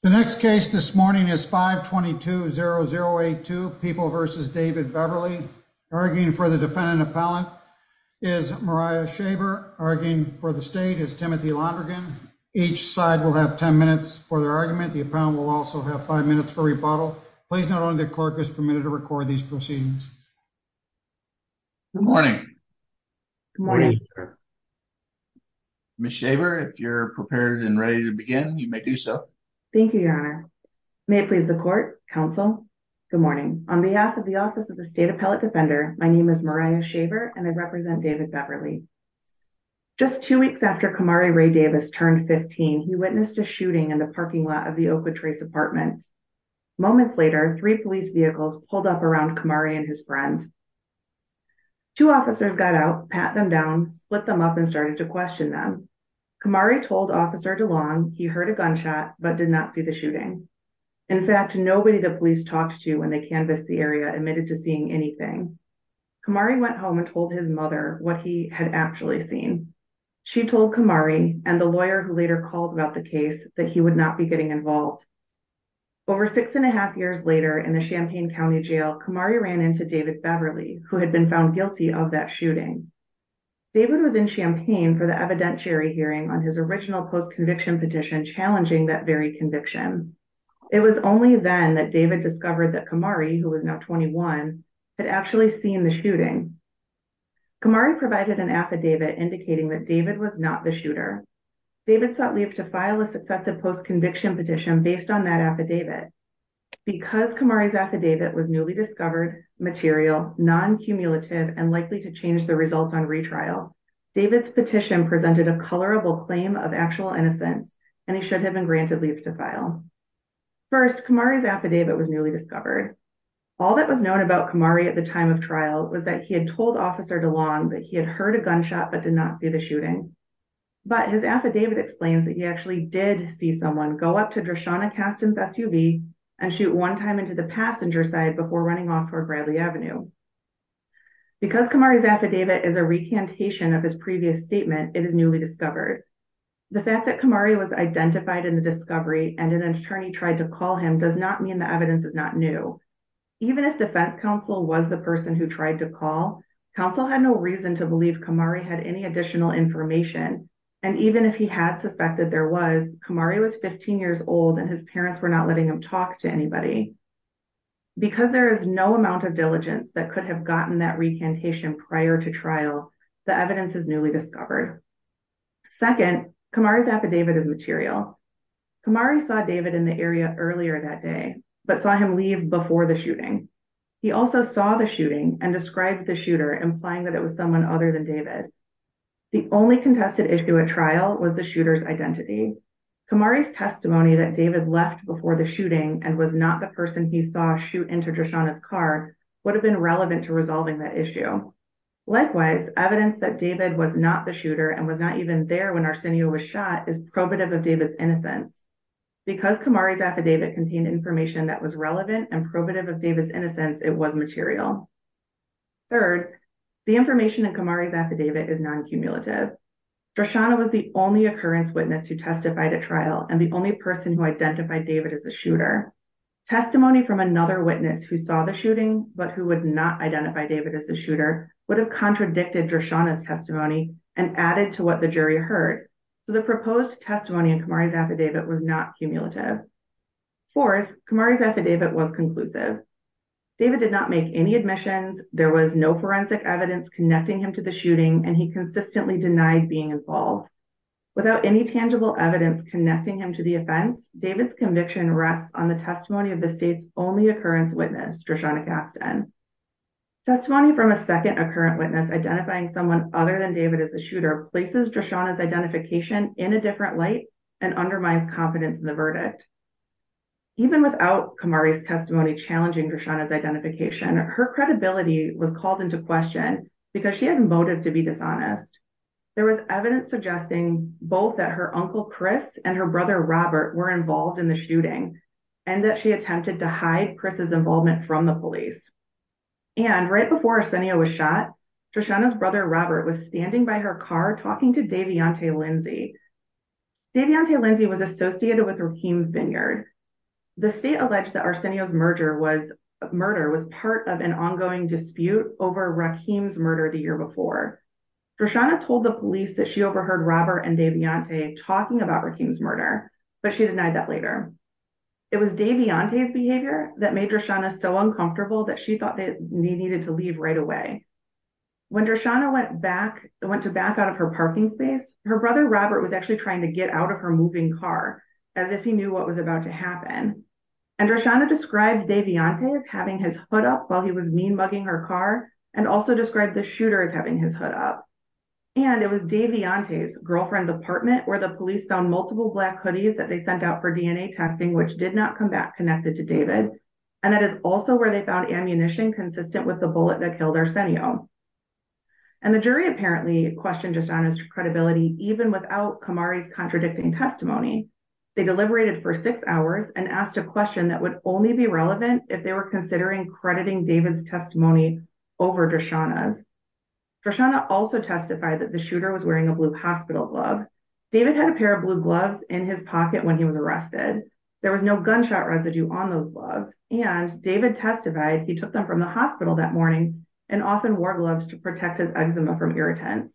The next case this morning is 522-0082, People v. David Beverly. Arguing for the defendant appellant is Mariah Shaver. Arguing for the state is Timothy Londrigan. Each side will have 10 minutes for their argument. The appellant will also have 5 minutes for rebuttal. Please note only the clerk is permitted to record these proceedings. Good morning. Good morning, sir. Ms. Shaver, if you're prepared and ready to begin, you may do so. Thank you, Your Honor. May it please the court, counsel. Good morning. On behalf of the Office of the State Appellate Defender, my name is Mariah Shaver and I represent David Beverly. Just two weeks after Kamari Ray Davis turned 15, he witnessed a shooting in the parking lot of the Oakwood Trace Apartments. Moments later, three police vehicles pulled up around Kamari and his friend. Two officers got out, pat them down, split them up and started to question them. Kamari told Officer DeLong he heard a gunshot, but did not see the shooting. In fact, nobody the police talked to when they canvassed the area admitted to seeing anything. Kamari went home and told his mother what he had actually seen. She told Kamari and the lawyer who later called about the case that he would not be getting involved. Over six and a half years later in the Champaign County Jail, Kamari ran into David Beverly, who had been found guilty of that shooting. David was in Champaign for the evidentiary hearing on his original post-conviction petition challenging that very conviction. It was only then that David discovered that Kamari, who was now 21, had actually seen the shooting. Kamari provided an affidavit indicating that David was not the shooter. David sought leave to file a successive post-conviction petition based on that affidavit. Because Kamari's affidavit was newly discovered, material, non-cumulative and likely to change the results on retrial, David's petition presented a colorable claim of actual innocence and he should have been granted leave to file. First, Kamari's affidavit was newly discovered. All that was known about Kamari at the time of trial was that he had told Officer DeLong that he had heard a gunshot but did not see the shooting. But his affidavit explains that he actually did see someone go up to Dreshana Caston's SUV and shoot one time into the passenger side before running off toward Bradley Avenue. Because Kamari's affidavit is a recantation of his previous statement, it is newly discovered. The fact that Kamari was identified in the discovery and an attorney tried to call him does not mean the evidence is not new. Even if defense counsel was the person who tried to call, counsel had no reason to believe Kamari had any additional information. And even if he had suspected there was, Kamari was 15 years old and his parents were not letting him talk to anybody. Because there is no amount of diligence that could have gotten that recantation prior to trial, the evidence is newly discovered. Second, Kamari's affidavit is material. Kamari saw David in the area earlier that day, but saw him leave before the shooting. He also saw the shooting and described the shooter implying that it was someone other than David. The only contested issue at trial was the shooter's identity. Kamari's testimony that David left before the shooting and was not the person he saw shoot into Dreshana's car would have been relevant to resolving that issue. Likewise, evidence that David was not the shooter and was not even there when Arsenio was shot is probative of David's innocence. Because Kamari's affidavit contained information that was relevant and probative of David's innocence, it was material. Third, the information in Kamari's affidavit is non-cumulative. Dreshana was the only occurrence witness who testified at trial and the only person who identified David as a shooter. Testimony from another witness who saw the shooting but who would not identify David as the shooter would have contradicted Dreshana's testimony and added to what the jury heard. So the proposed testimony in Kamari's affidavit was not cumulative. Fourth, Kamari's affidavit was conclusive. David did not make any admissions, there was no forensic evidence connecting him to the shooting, and he consistently denied being involved. Without any tangible evidence connecting him to the offense, David's conviction rests on the testimony of the state's only occurrence witness, Dreshana Gaston. Testimony from a second occurrence witness identifying someone other than David as the shooter places Dreshana's identification in a different light and undermines confidence in the verdict. Even without Kamari's testimony challenging Dreshana's identification, her credibility was called into question because she had motive to be dishonest. There was evidence suggesting both that her uncle Chris and her brother Robert were involved in the shooting and that she attempted to hide Chris's involvement from the police. And right before Arsenio was shot, Dreshana's brother Robert was standing by her car talking to Davionte Lindsay. Davionte Lindsay was associated with Rakeem's Vineyard. The state alleged that Arsenio's murder was part of an ongoing dispute over Rakeem's murder the year before. Dreshana told the police that she overheard Robert and Davionte talking about Rakeem's murder, but she denied that later. It was Davionte's behavior that made Dreshana so uncomfortable that she thought they needed to leave right away. When Dreshana went to back out of her parking space, her brother Robert was actually trying to get out of her moving car as if he knew what was about to happen. And Dreshana described Davionte as having his hood up while he was mean mugging her car and also described the shooter as having his hood up. And it was Davionte's girlfriend's apartment where the police found multiple black hoodies that they sent out for DNA testing, which did not come back connected to David. And that is also where they found ammunition consistent with the bullet that killed Arsenio. And the jury apparently questioned Dreshana's credibility even without Kamari's contradicting testimony. They deliberated for six hours and asked a question that would only be relevant if they were considering crediting David's testimony over Dreshana's. Kamari also testified that the shooter was wearing a blue hospital glove. David had a pair of blue gloves in his pocket when he was arrested. There was no gunshot residue on those gloves. And David testified he took them from the hospital that morning and often wore gloves to protect his eczema from irritants.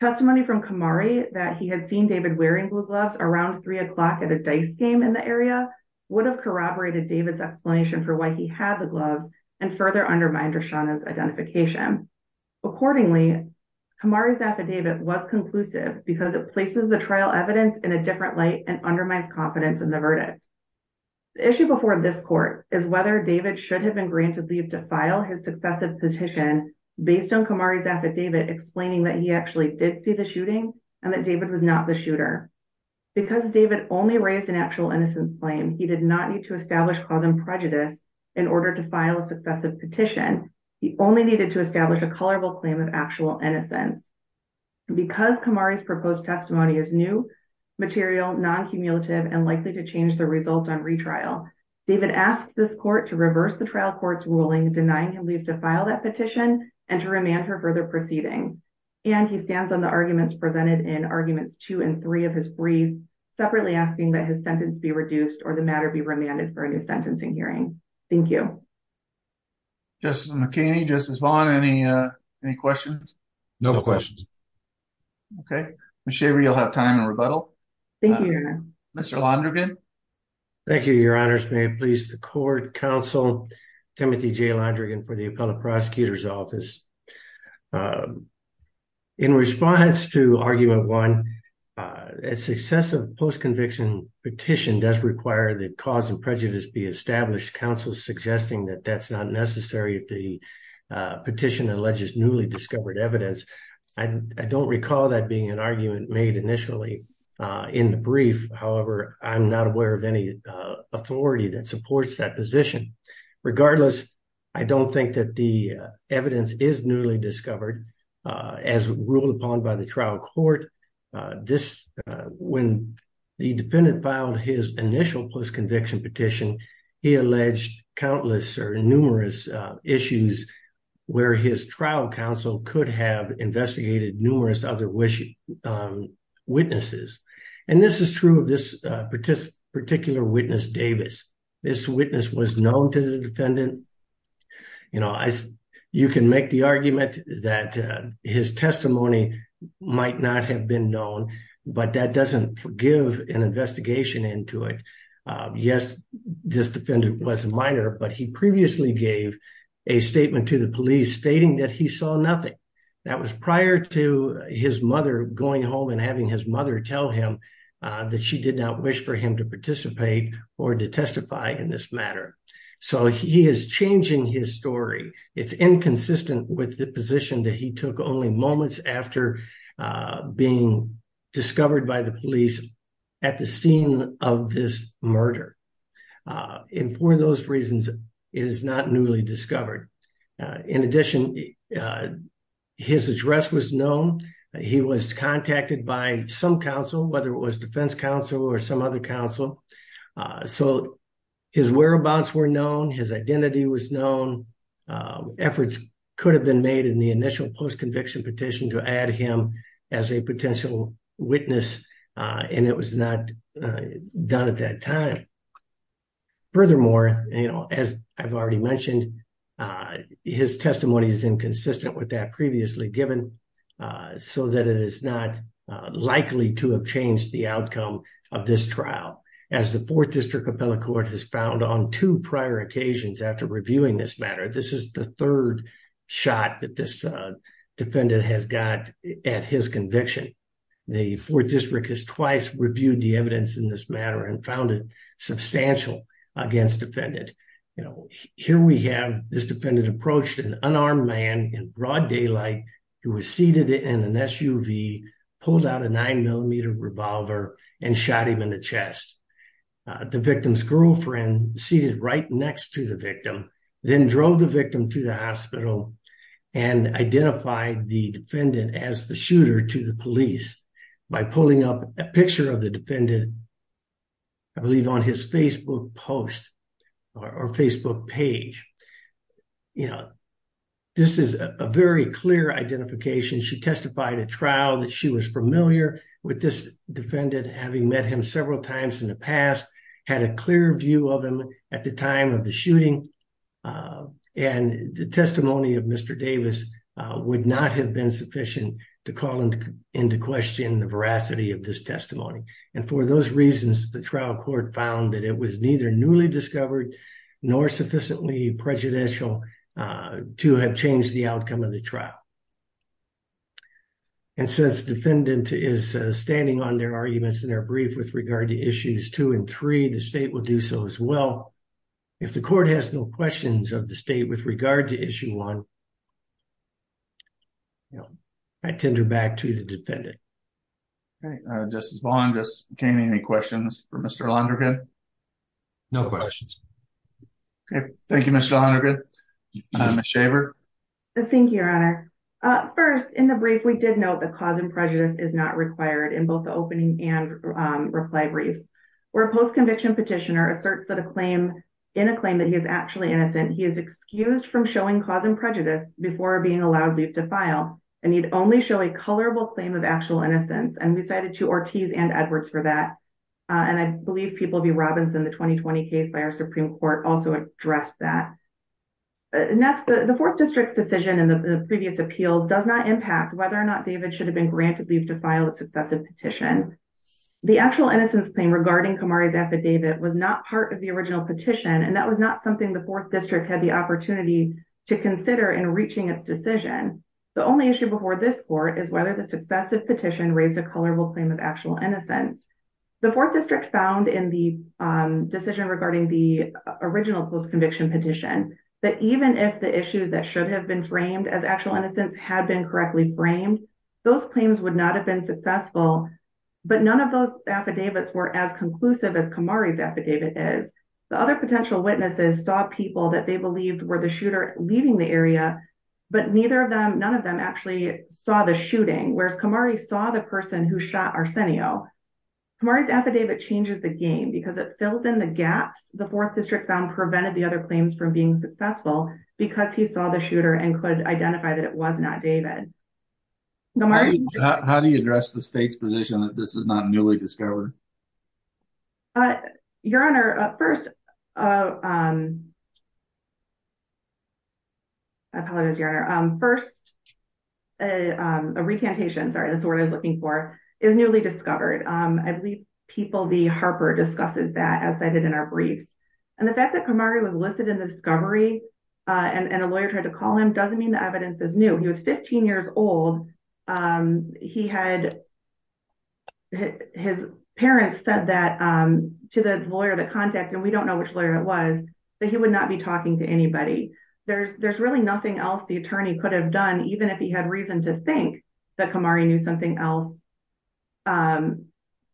Testimony from Kamari that he had seen David wearing blue gloves around three o'clock at a dice game in the area would have corroborated David's explanation for why he had the gloves and further undermined Dreshana's identification. Accordingly, Kamari's affidavit was conclusive because it places the trial evidence in a different light and undermines confidence in the verdict. The issue before this court is whether David should have been granted leave to file his successive petition based on Kamari's affidavit explaining that he actually did see the shooting and that David was not the shooter. Because David only raised an actual innocence claim, he did not need to establish cause and prejudice in order to file a successive petition. He only needed to establish a colorable claim of actual innocence. Because Kamari's proposed testimony is new, material, non-cumulative, and likely to change the result on retrial, David asked this court to reverse the trial court's ruling, denying him leave to file that petition and to remand her further proceedings. And he stands on the arguments presented in arguments two and three of his brief, separately asking that his sentence be reduced or the matter be remanded for a new sentencing hearing. Thank you. Thank you. Justice McKinney, Justice Vaughn, any questions? No questions. Okay. Ms. Shaver, you'll have time to rebuttal. Thank you, Your Honor. Mr. Londrigan. Thank you, Your Honors. May it please the court, counsel Timothy J. Londrigan for the Appellate Prosecutor's Office. In response to argument one, a successive post-conviction petition does require that cause and prejudice be established. Counsel's suggesting that that's not necessary if the petition alleges newly discovered evidence. I don't recall that being an argument made initially in the brief. However, I'm not aware of any authority that supports that position. Regardless, I don't think that the evidence is newly discovered as ruled upon by the trial court. When the defendant filed his initial post-conviction petition, he alleged countless or numerous issues where his trial counsel could have investigated numerous other witnesses. And this is true of this particular witness, Davis. This witness was known to the defendant. You can make the argument that his testimony might not have been known, but that doesn't forgive an investigation into it. Yes, this defendant was a minor, but he previously gave a statement to the police stating that he saw nothing. That was prior to his mother going home and having his mother tell him that she did not wish for him to participate or to testify in this matter. So he is changing his story. It's inconsistent with the position that he took only moments after being discovered by the police at the scene of this murder. And for those reasons, it is not newly discovered. In addition, his address was known. He was contacted by some counsel, whether it was defense counsel or some other counsel. So his whereabouts were known. His identity was known. Efforts could have been made in the initial post-conviction petition to add him as a potential witness, and it was not done at that time. Furthermore, as I've already mentioned, his testimony is inconsistent with that previously given so that it is not likely to have changed the outcome of this trial. As the Fourth District Appellate Court has found on two prior occasions after reviewing this matter, this is the third shot that this defendant has got at his conviction. The Fourth District has twice reviewed the evidence in this matter and found it substantial against defendant. Here we have this defendant approached an unarmed man in broad daylight who was seated in an SUV, pulled out a nine millimeter revolver and shot him in the chest. The victim's girlfriend seated right next to the victim, then drove the victim to the hospital and identified the defendant as the shooter to the police by pulling up a picture of the defendant, I believe on his Facebook post or Facebook page. This is a very clear identification. She testified at trial that she was familiar with this defendant having met him several times in the past, had a clear view of him at the time of the shooting. And the testimony of Mr. Davis would not have been sufficient to call into question the veracity of this testimony. And for those reasons, the trial court found that it was neither newly discovered nor sufficiently prejudicial to have changed the outcome of the trial. And since defendant is standing on their arguments in their brief with regard to issues two and three, the state will do so as well. If the court has no questions of the state with regard to issue one, I tender back to the defendant. Justice Bond, can I have any questions for Mr. Londergan? No questions. Okay, thank you, Mr. Londergan. Ms. Shaver. Thank you, your honor. First, in the brief, we did note that cause and prejudice is not required in both the opening and reply brief. Where a post-conviction petitioner asserts that a claim, in a claim that he is actually innocent, he is excused from showing cause and prejudice before being allowed leave to file. And he'd only show a colorable claim of actual innocence. And we cited to Ortiz and Edwards for that. And I believe People v. Robinson, the 2020 case by our Supreme Court also addressed that. Next, the fourth district's decision in the previous appeal does not impact whether or not David should have been granted leave to file a successive petition. The actual innocence claim regarding Kamari's affidavit was not part of the original petition. And that was not something the fourth district had the opportunity to consider in reaching its decision. The only issue before this court is whether the successive petition raised a colorable claim of actual innocence. The fourth district found in the decision regarding the original post-conviction petition, that even if the issue that should have been framed as actual innocence had been correctly framed, those claims would not have been successful but none of those affidavits were as conclusive as Kamari's affidavit is. The other potential witnesses saw people that they believed were the shooter leaving the area, but none of them actually saw the shooting. Whereas Kamari saw the person who shot Arsenio. Kamari's affidavit changes the game because it fills in the gaps the fourth district found prevented the other claims from being successful because he saw the shooter and could identify that it was not David. How do you address the state's position that this is not newly discovered? Your Honor, first, I apologize, Your Honor. First, a recantation, sorry, that's the word I was looking for, is newly discovered. I believe people, the Harper discusses that as cited in our briefs. And the fact that Kamari was listed in discovery and a lawyer tried to call him doesn't mean the evidence is new. He was 15 years old. His parents said that to the lawyer, the contact, and we don't know which lawyer it was, that he would not be talking to anybody. There's really nothing else the attorney could have done even if he had reason to think that Kamari knew something else.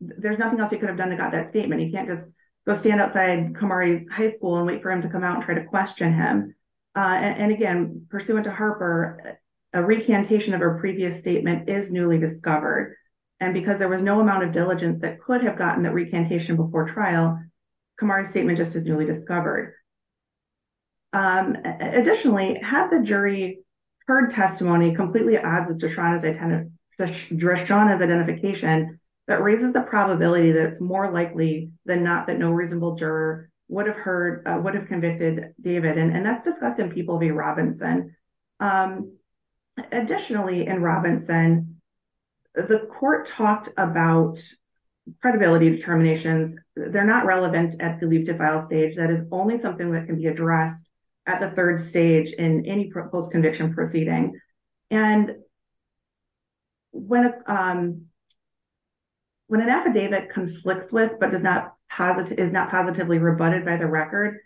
There's nothing else he could have done to got that statement. He can't just go stand outside Kamari's high school and wait for him to come out and try to question him. And again, pursuant to Harper, a recantation of her previous statement is newly discovered. And because there was no amount of diligence that could have gotten that recantation before trial, Kamari's statement just is newly discovered. Additionally, had the jury heard testimony completely as of Dreshana's identification, that raises the probability that it's more likely than not that no reasonable juror would have heard, would have convicted David. And that's discussed in People v. Robinson. Additionally, in Robinson, the court talked about credibility determinations. They're not relevant at the leap to file stage. That is only something that can be addressed at the third stage in any post-conviction proceeding. And when an affidavit conflicts with, but is not positively rebutted by the record,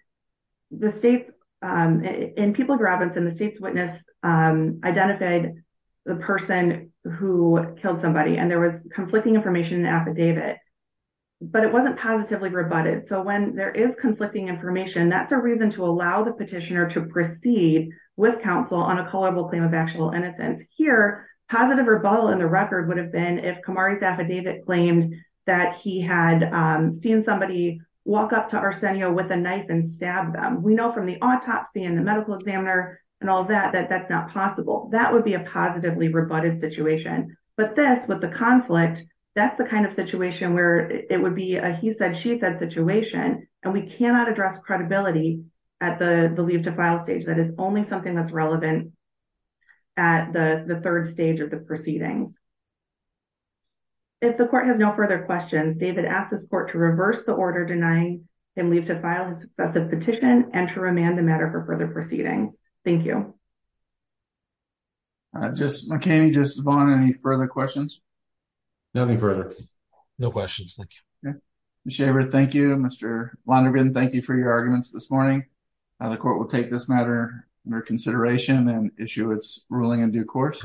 the state, in People v. Robinson, the state's witness identified the person who killed somebody, and there was conflicting information in the affidavit, but it wasn't positively rebutted. So when there is conflicting information, that's a reason to allow the petitioner to proceed with counsel on a culpable claim of actual innocence. Here, positive rebuttal in the record would have been if Kamari's affidavit claimed that he had seen somebody walk up to Arsenio with a knife and stab them. We know from the autopsy and the medical examiner and all that, that that's not possible. That would be a positively rebutted situation. But this, with the conflict, that's the kind of situation where it would be a he said, she said situation, and we cannot address credibility at the leap to file stage. That is only something that's relevant at the third stage of the proceeding. If the court has no further questions, David asks this court to reverse the order denying him leave to file a successive petition and to remand the matter for further proceeding. Thank you. Just, Mckamey, just Vaughn, any further questions? No questions. Thank you. Ms. Shavard, thank you. Mr. Lonergan, thank you for your arguments this morning. The court will take this matter under consideration and issue its ruling in due course.